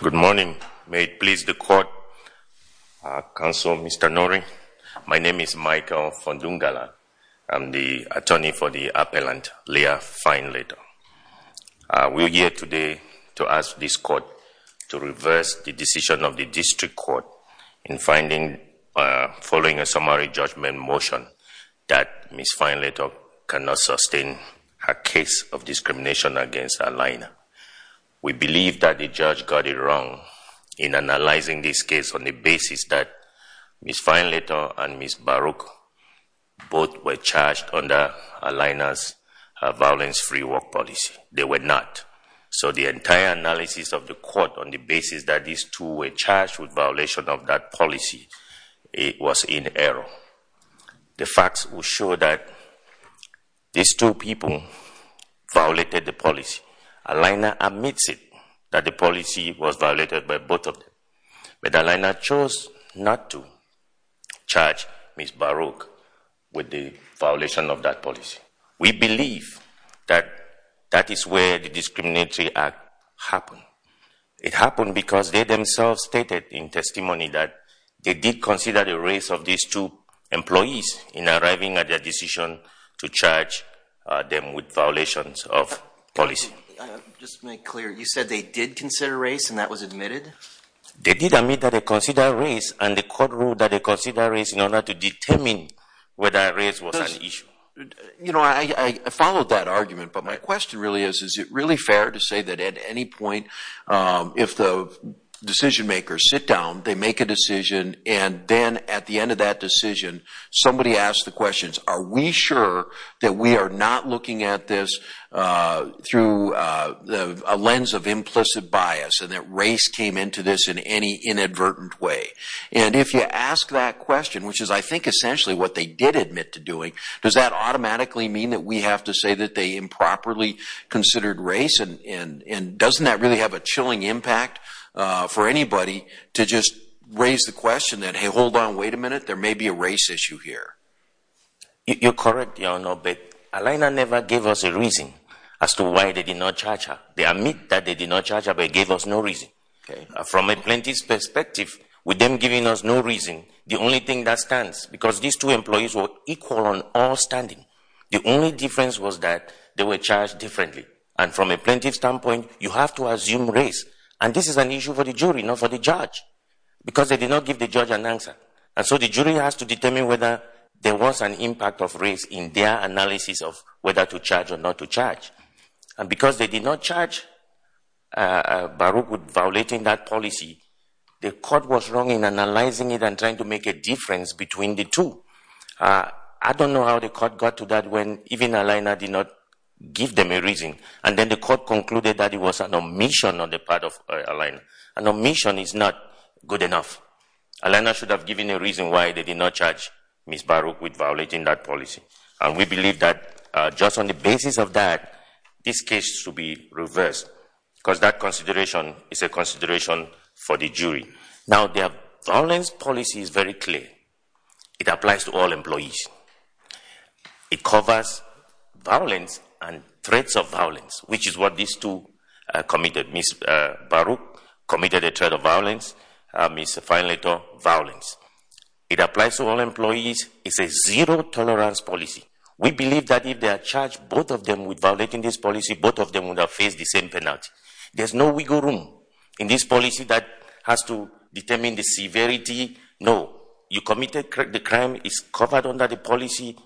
Good morning. May it please the Court, Counsel Mr. Norey. My name is Michael Fondungala. I am the attorney for the appellant Leah Findlator. We are here today to ask this Court to reverse the decision of the District Court in finding, following a summary judgment motion, that Ms. Findlator cannot sustain her case of discrimination against Allina. We believe that the judge got it wrong in analyzing this case on the basis that Ms. Findlator and Ms. Baruch both were charged under Allina's violence-free work policy. They were not. So the entire analysis of the Court on the basis that these two were charged with violation of that policy was in error. The facts will show that these two people violated the policy. Allina admits that the policy was violated by both of them. But Allina chose not to charge Ms. Baruch with the violation of that policy. We believe that that is where the discriminatory act happened. It happened because they themselves stated in testimony that they did consider the race of these two employees in arriving at their decision to charge them with violations of policy. Just to make clear, you said they did consider race and that was admitted? They did admit that they considered race and the Court ruled that they considered race in order to determine whether race was an issue. You know, I followed that argument, but my question really is, is it really fair to say that at any point, if the decision makers sit down, they make a decision, and then at the end of that decision, somebody asks the questions, are we sure that we are not looking at this through a lens of implicit bias and that race came into this in any inadvertent way? And if you ask that question, which is I think essentially what they did admit to doing, does that automatically mean that we have to say that they improperly considered race? And doesn't that really have a chilling impact for anybody to just raise the question that, hey, hold on, wait a minute, there may be a race issue here? You're correct, Your Honor, but Alaina never gave us a reason as to why they did not charge her. They admit that they did not charge her, but they gave us no reason. From a plaintiff's perspective, with them giving us no reason, the only thing that stands, because these two employees were equal on all standing, the only difference was that they were charged differently. And from a plaintiff's standpoint, you have to assume race. And this is an issue for the jury, not for the judge, because they did not give the judge an answer. And so the was an impact of race in their analysis of whether to charge or not to charge. And because they did not charge Baruch with violating that policy, the court was wrong in analyzing it and trying to make a difference between the two. I don't know how the court got to that when even Alaina did not give them a reason. And then the court concluded that it was an omission on the part of Alaina. An omission is not good enough. Alaina should have given a reason why they did not charge Ms. Baruch with violating that policy. And we believe that just on the basis of that, this case should be reversed, because that consideration is a consideration for the jury. Now, their violence policy is very clear. It applies to all employees. It covers violence and threats of violence, which is what these two committed. Ms. Baruch committed a threat of violence. Ms. Finlaytor, violence. It applies to all employees. It's a zero-tolerance policy. We believe that if they are charged, both of them, with violating this policy, both of them will now face the same penalty. There's no wiggle room in this policy that has to determine the severity. No. You committed the crime. It's covered under the policy.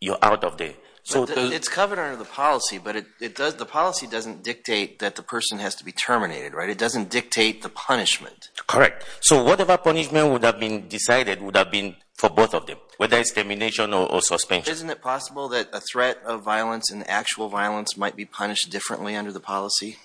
You're out of there. It's covered under the policy, but the policy doesn't dictate that the person has to be terminated. It doesn't dictate the punishment. Correct. So whatever punishment would have been decided would have been for both of them, whether it's termination or suspension. Isn't it possible that a threat of violence and actual violence might be punished differently under the policy?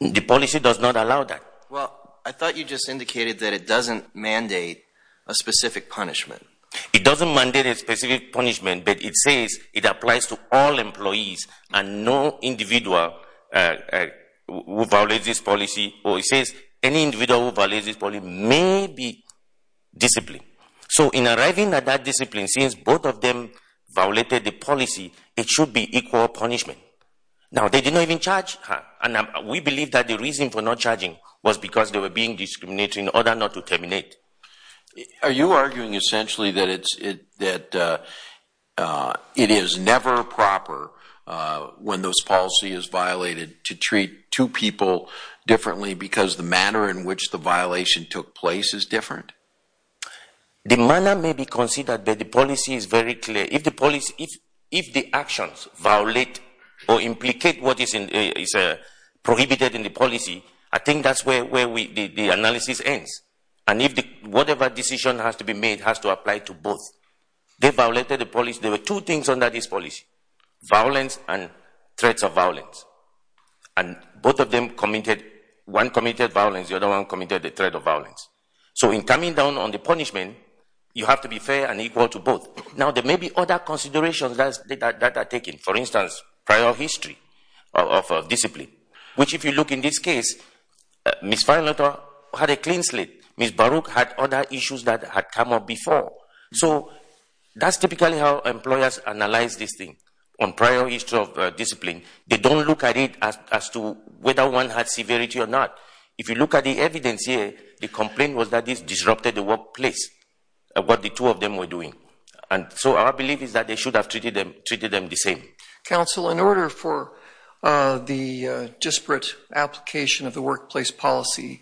The policy does not allow that. Well, I thought you just indicated that it doesn't mandate a specific punishment. It doesn't mandate a specific punishment, but it says it applies to all employees and no individual who violates this policy, or it says any individual who violates this policy may be disciplined. So in arriving at that discipline, since both of them violated the policy, it should be equal punishment. Now, they did not even charge her, and we believe that the reason for not charging was because they were being discriminated in order not to terminate. Are you arguing essentially that it is never proper when this policy is violated to treat two people differently because the manner in which the violation took place is different? The manner may be considered, but the policy is very clear. If the actions violate or implicate what is prohibited in the policy, I think that's where the analysis ends. And if whatever decision has to be made has to apply to both. They violated the policy. There were two things under this policy, violence and threats of violence. And both of them committed, one committed violence, the other one committed the threat of violence. So in coming down on the punishment, you have to be fair and equal to both. Now, there may be other considerations that are taken. For instance, prior history of discipline, which if you look in this case, Ms. Feinlotter had a clean slate. Ms. Baruch had other issues that had come up before. So that's typically how employers analyze this thing, on prior history of discipline. They don't look at it as to whether one had severity or not. If you look at the evidence here, the complaint was that this disrupted the workplace, what the two of them were doing. And so our belief is that they should have treated them the same. Counsel, in order for the disparate application of the workplace policy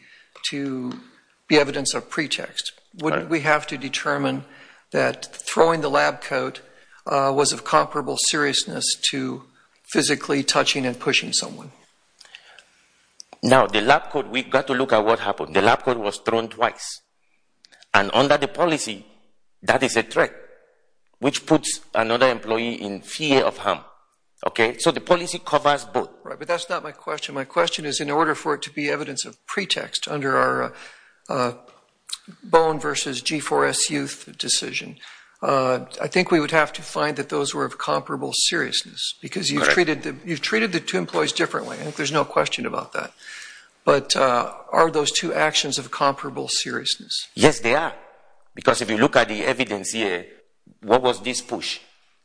to be evidence of pretext, wouldn't we have to determine that throwing the lab coat was of comparable seriousness to physically touching and pushing someone? Now, the lab coat, we've got to look at what happened. The lab coat was thrown twice. And under the policy, that is a threat, which puts another employee in fear of harm. Okay? So the policy covers both. Right, but that's not my question. My question is, in order for it to be evidence of pretext under our Bowen v. G4S youth decision, I think we would have to find that those were of comparable seriousness. Because you've treated the two employees differently. I think there's no question about that. But are those two actions of comparable seriousness? Yes, they are. Because if you look at the evidence here, what was this push?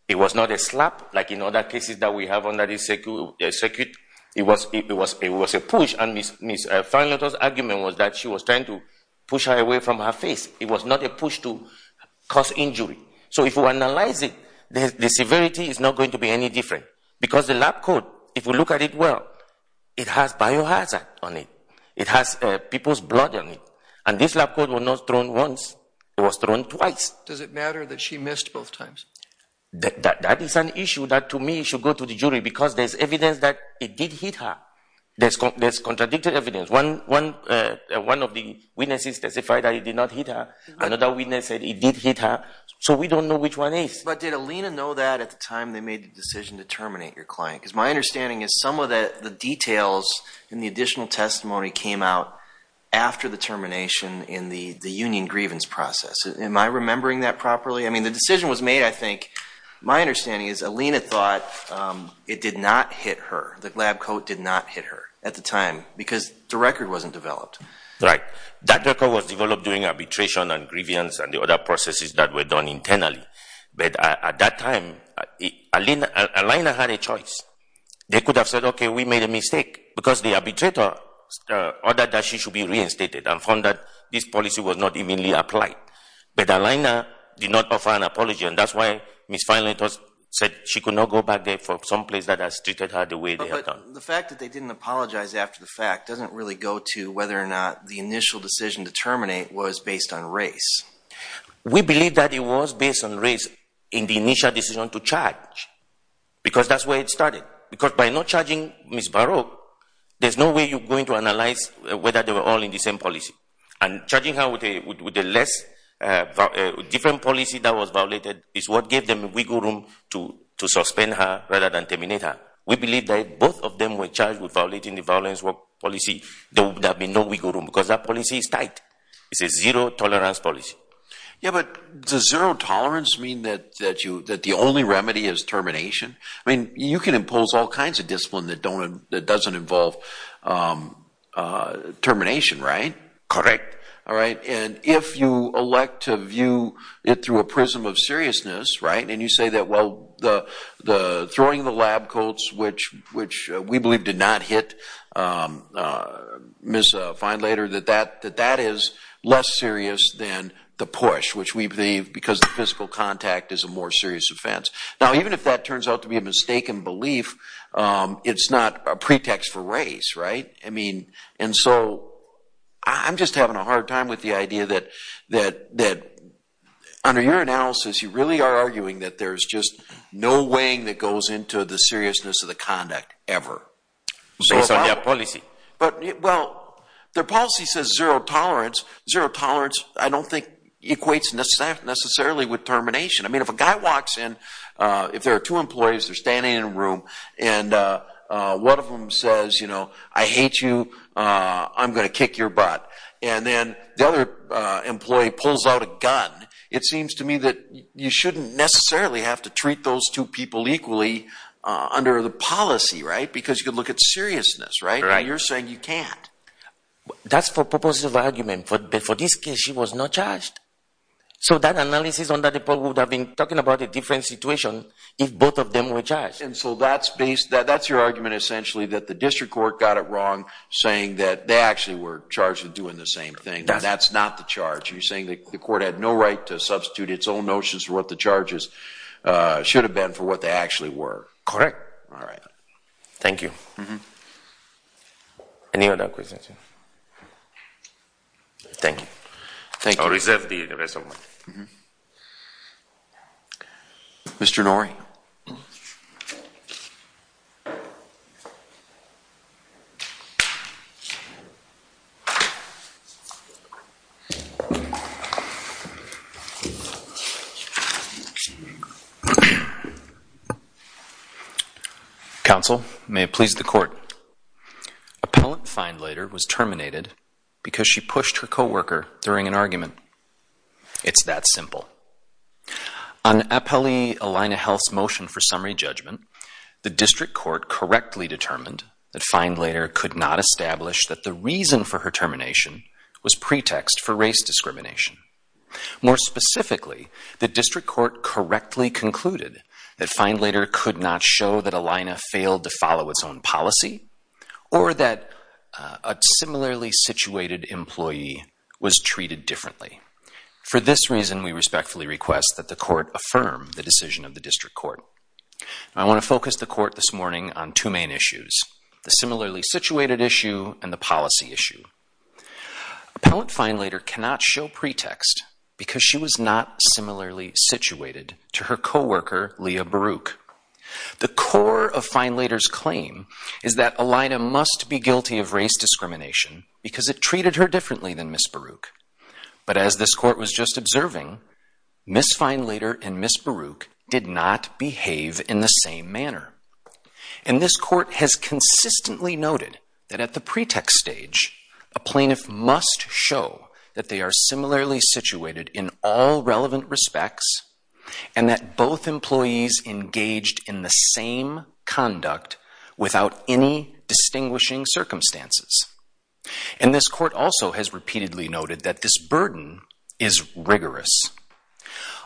It was not a slap, like in other cases that we have under this circuit. It was a push. And Ms. Feinleiter's argument was that she was trying to push her away from her face. It was not a push to cause injury. So if you analyze it, the severity is not going to be any different. Because the lab coat, if you look at it well, it has biohazard on it. It has people's blood on it. And this lab coat was not thrown once. It was thrown twice. Does it matter that she missed both times? That is an issue that to me should go to the jury, because there's evidence that it did hit her. There's contradicted evidence. One of the witnesses testified that it did not hit her. Another witness said it did hit her. So we don't know which one is. But did Alina know that at the time they made the decision to terminate your client? Because my understanding is some of the details in the additional testimony came out after the termination in the union grievance process. Am I remembering that properly? I mean, the decision was made, I think, my understanding is Alina thought it did not hit her. The lab coat did not hit her at the time, because the record wasn't developed. Right. That record was developed during arbitration and grievance and the other processes that were done internally. But at that time, Alina had a choice. They could have said, okay, we made a mistake, because the arbitrator ordered that she should be reinstated and found that this policy was not evenly applied. But Alina did not offer an apology, and that's why Ms. Finley said she could not go back there from someplace that has treated her the way they have done. The fact that they didn't apologize after the fact doesn't really go to whether or not the initial decision to terminate was based on race. We believe that it was based on race in the initial decision to charge, because that's where it started. Because by not charging Ms. Baroque, there's no way you're going to analyze whether they were all in the same policy. And charging her with a different policy that was violated is what gave them wiggle room to suspend her rather than terminate her. We believe that if both of them were charged with violating the violence work policy, there would have been no wiggle room, because that policy is tight. It's a zero-tolerance policy. Yeah, but does zero-tolerance mean that the only remedy is termination? I mean, you can impose all kinds of discipline that doesn't involve termination, right? Correct. All right. And if you elect to view it through a prism of seriousness, right, and you say that, well, throwing the lab coats, which we believe did not hit Ms. Feinlater, that that is less serious than the push, which we believe because the physical contact is a more serious offense. Now even if that turns out to be a mistaken belief, it's not a pretext for race, right? And so I'm just having a hard time with the idea that under your analysis you really are arguing that there's just no weighing that goes into the seriousness of the conduct ever. Based on their policy. But, well, their policy says zero-tolerance. Zero-tolerance I don't think equates necessarily with termination. I mean, if a guy walks in, if there are two employees, they're standing in a room, and one of them says, you know, I hate you, I'm going to kick your butt. And then the other employee pulls out a gun. It seems to me that you shouldn't necessarily have to treat those two people equally under the policy, right? Because you could look at seriousness, right? And you're saying you can't. That's for purposive argument, but for this case she was not charged. So that analysis under the poll would have been talking about a different situation if both of them were charged. And so that's based, that's your argument essentially that the district court got it That's not the charge. You're saying that the court had no right to substitute its own notions for what the charges should have been for what they actually were. Correct. All right. Thank you. Any other questions? Thank you. Thank you. I'll reserve the rest of my time. Mr. Norrie. Counsel may please the court. Appellant Feinlader was terminated because she pushed her co-worker during an argument. It's that simple. On Appellee Alina Health's motion for summary judgment, the district court correctly determined that Feinlader could not establish that the reason for her termination was pretext for race discrimination. More specifically, the district court correctly concluded that Feinlader could not show that Alina failed to follow its own policy or that a similarly situated employee was treated differently. For this reason, we respectfully request that the court affirm the decision of the district court. I want to focus the court this morning on two main issues, the similarly situated issue and the policy issue. Appellant Feinlader cannot show pretext because she was not similarly situated to her co-worker, Leah Baruch. The core of Feinlader's claim is that Alina must be guilty of race discrimination because it treated her differently than Miss Baruch. But as this court was just observing, Miss Feinlader and Miss Baruch did not behave in the same manner. And this court has consistently noted that at the pretext stage, a plaintiff must show that they are similarly situated in all relevant respects and that both employees engaged in the same conduct without any distinguishing circumstances. And this court also has repeatedly noted that this burden is rigorous.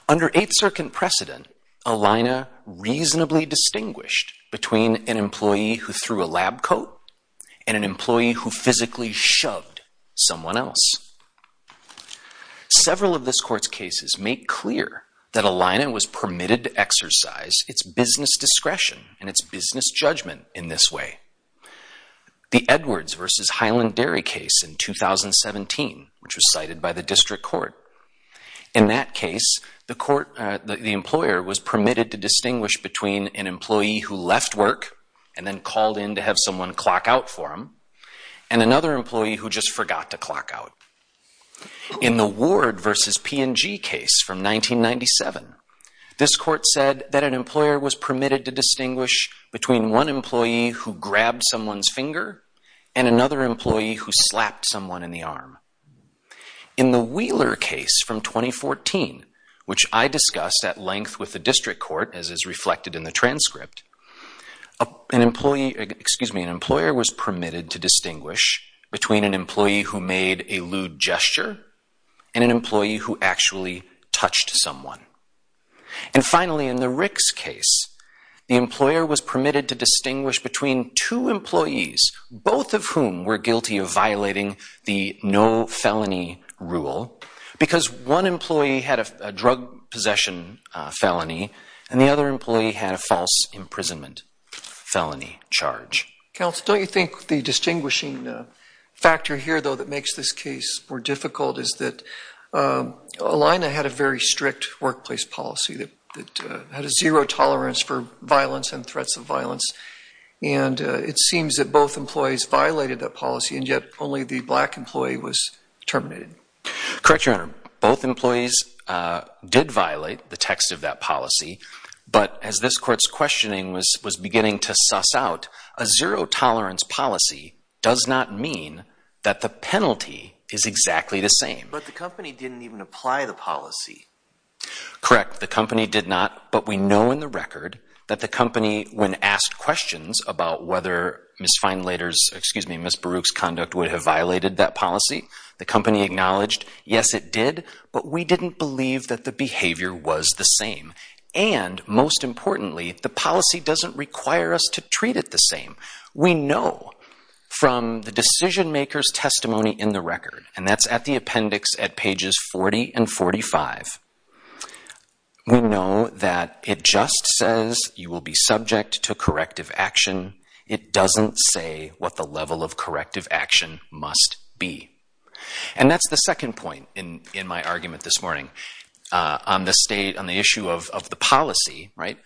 Under Eighth Circuit precedent, Alina reasonably distinguished between an employee who threw a lab coat and an employee who physically shoved someone else. Several of this court's cases make clear that Alina was permitted to exercise its business discretion and its business judgment in this way. The Edwards versus Highland Dairy case in 2017, which was cited by the district court. In that case, the court, the employer was permitted to distinguish between an employee who left work and then called in to have someone clock out for him and another employee who just forgot to clock out. In the Ward versus P&G case from 1997, this court said that an employer was permitted to distinguish between one employee who grabbed someone's finger and another employee who slapped someone in the arm. In the Wheeler case from 2014, which I discussed at length with the district court as is reflected in the transcript, an employee, excuse me, an rude gesture and an employee who actually touched someone. And finally, in the Ricks case, the employer was permitted to distinguish between two employees, both of whom were guilty of violating the no felony rule because one employee had a drug possession felony and the other employee had a false imprisonment felony charge. Counsel, don't you think the distinguishing factor here, though, that makes this case more difficult is that Elina had a very strict workplace policy that had a zero tolerance for violence and threats of violence. And it seems that both employees violated that policy and yet only the black employee was terminated. Correct, Your Honor. Both employees did violate the text of that policy, but as this court's suss out, a zero tolerance policy does not mean that the penalty is exactly the same. But the company didn't even apply the policy. Correct. The company did not, but we know in the record that the company, when asked questions about whether Ms. Feinlater's, excuse me, Ms. Baruch's conduct would have violated that policy, the company acknowledged, yes, it did, but we didn't believe that the behavior was the same. And most importantly, the policy doesn't require us to treat it the same. We know from the decision maker's testimony in the record, and that's at the appendix at pages 40 and 45, we know that it just says you will be subject to corrective action. It doesn't say what the level of corrective action must be. And that's the second point in my argument this morning on the state, on the issue of the policy, right?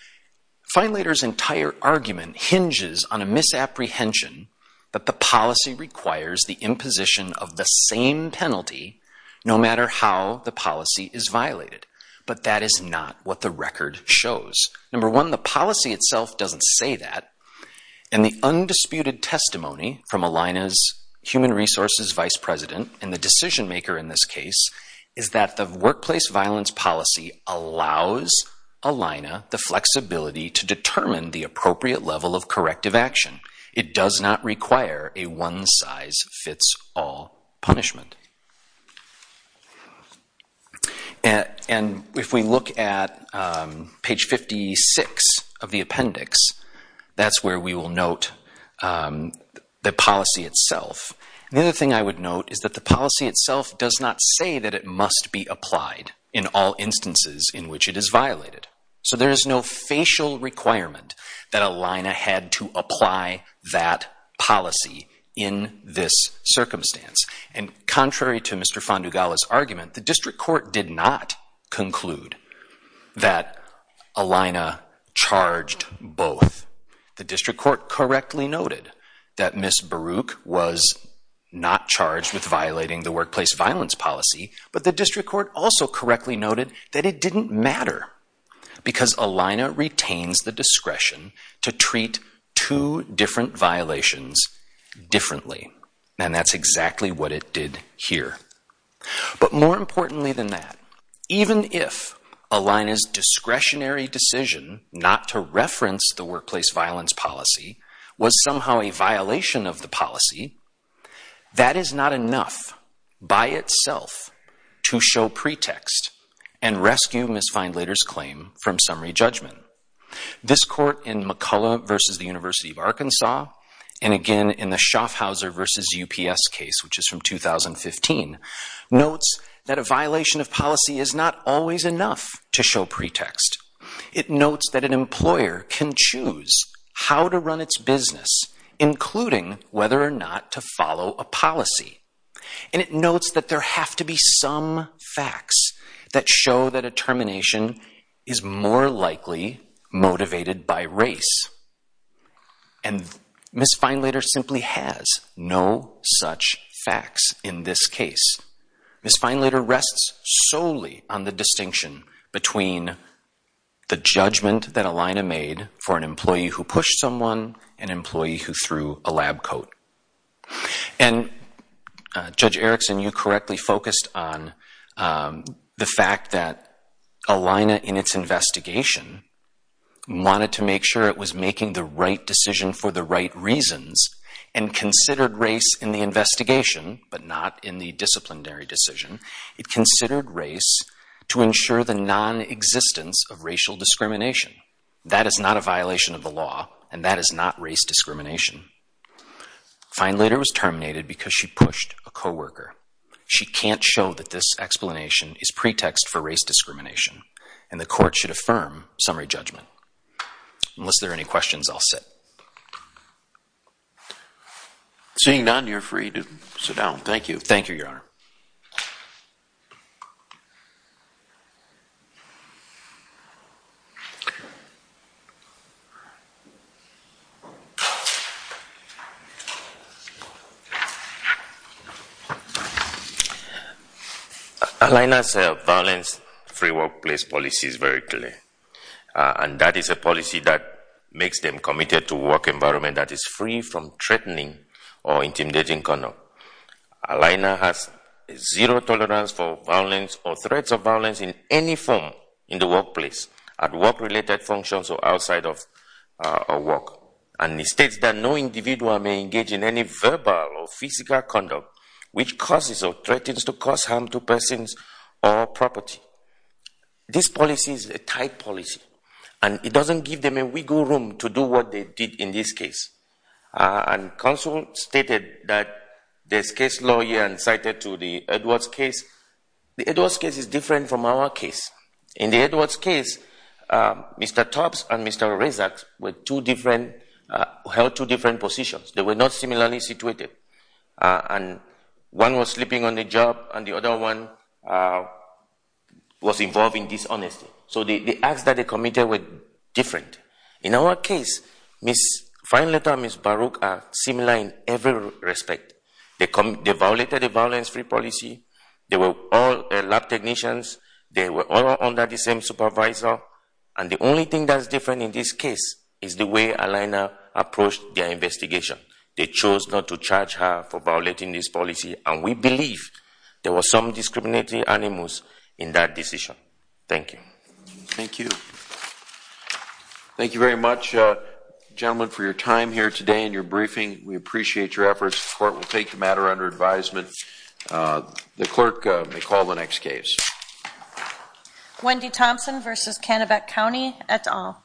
Feinlater's entire argument hinges on a misapprehension that the policy requires the imposition of the same penalty no matter how the policy is violated. But that is not what the record shows. Number one, the policy itself doesn't say that. And the undisputed testimony from Ms. Baruch's is that the workplace violence policy allows ELINA the flexibility to determine the appropriate level of corrective action. It does not require a one-size-fits-all punishment. And if we look at page 56 of the appendix, that's where we will note the policy itself. The other thing I would note is that the policy itself does not say that it must be applied in all instances in which it is violated. So there is no facial requirement that ELINA had to apply that policy in this circumstance. And contrary to Mr. Fandugala's argument, the district court did not conclude that ELINA charged both. The district court correctly noted that Ms. Baruch was not charged with violating the workplace violence policy, but the district court also correctly noted that it didn't matter because ELINA retains the discretion to treat two different violations differently. And that's exactly what it did here. But more importantly than that, even if ELINA's discretionary decision not to reference the workplace violence policy was somehow a violation of the policy, that is not enough by itself to show pretext and rescue Ms. Feindlater's claim from summary judgment. This court in McCullough versus the University of Arkansas, and again in the Schaffhauser versus UPS case, which is from 2015, notes that a violation of policy is not always enough to show pretext. It notes that an employer can choose how to run its business, including whether or not to follow a policy. And it notes that there have to be some facts that show that a termination is more likely motivated by race. And Ms. Feindlater simply has no such facts in this case. Ms. Feindlater rests solely on the distinction between the judgment that ELINA made for an employee who pushed someone, an employee who threw a lab coat. And Judge Erickson, you correctly focused on the fact that ELINA in its investigation wanted to make sure it was making the right decision for the right reasons and considered race in the investigation, but not in the disciplinary decision. It considered race to ensure the non-existence of racial discrimination. That is not a violation of the law, and that is not race discrimination. Feindlater was terminated because she pushed a coworker. She can't show that this explanation is pretext for race discrimination, and the court should not consider that. With that being done, you're free to sit down. Thank you. Thank you, Your Honor. ELINA's violence-free workplace policy is very clear, and that is a policy that makes them committed to a work environment that is free from threatening or intimidating conduct. ELINA has zero tolerance for violence or threats of violence in any form in the workplace at work-related functions or outside of work. And it states that no individual may engage in any verbal or physical conduct which causes or threatens to cause harm to persons or property. This policy is a tight policy, and it doesn't give them a wiggle room to do what they did in this case. And counsel stated that this case lawyer incited to the Edwards case. The Edwards case is different from our case. In the Edwards case, Mr. Tubbs and Mr. Rezak were two different, held two different positions. They were not similarly situated. And one was sleeping on the job, and the other one was involved in dishonesty. So the acts that they committed were different. In our case, Ms. Feinleiter and Ms. Baruch are similar in every respect. They violated a violence-free policy. They were all lab technicians. They were all under the same supervisor. And the only thing that's different in this case is the way ELINA approached their case. We believe there were some discriminatory animals in that decision. Thank you. Thank you. Thank you very much, gentlemen, for your time here today and your briefing. We appreciate your efforts. The court will take the matter under advisement. The clerk may call the next case. Wendy Thompson v. Canabac County, et al. Thank you.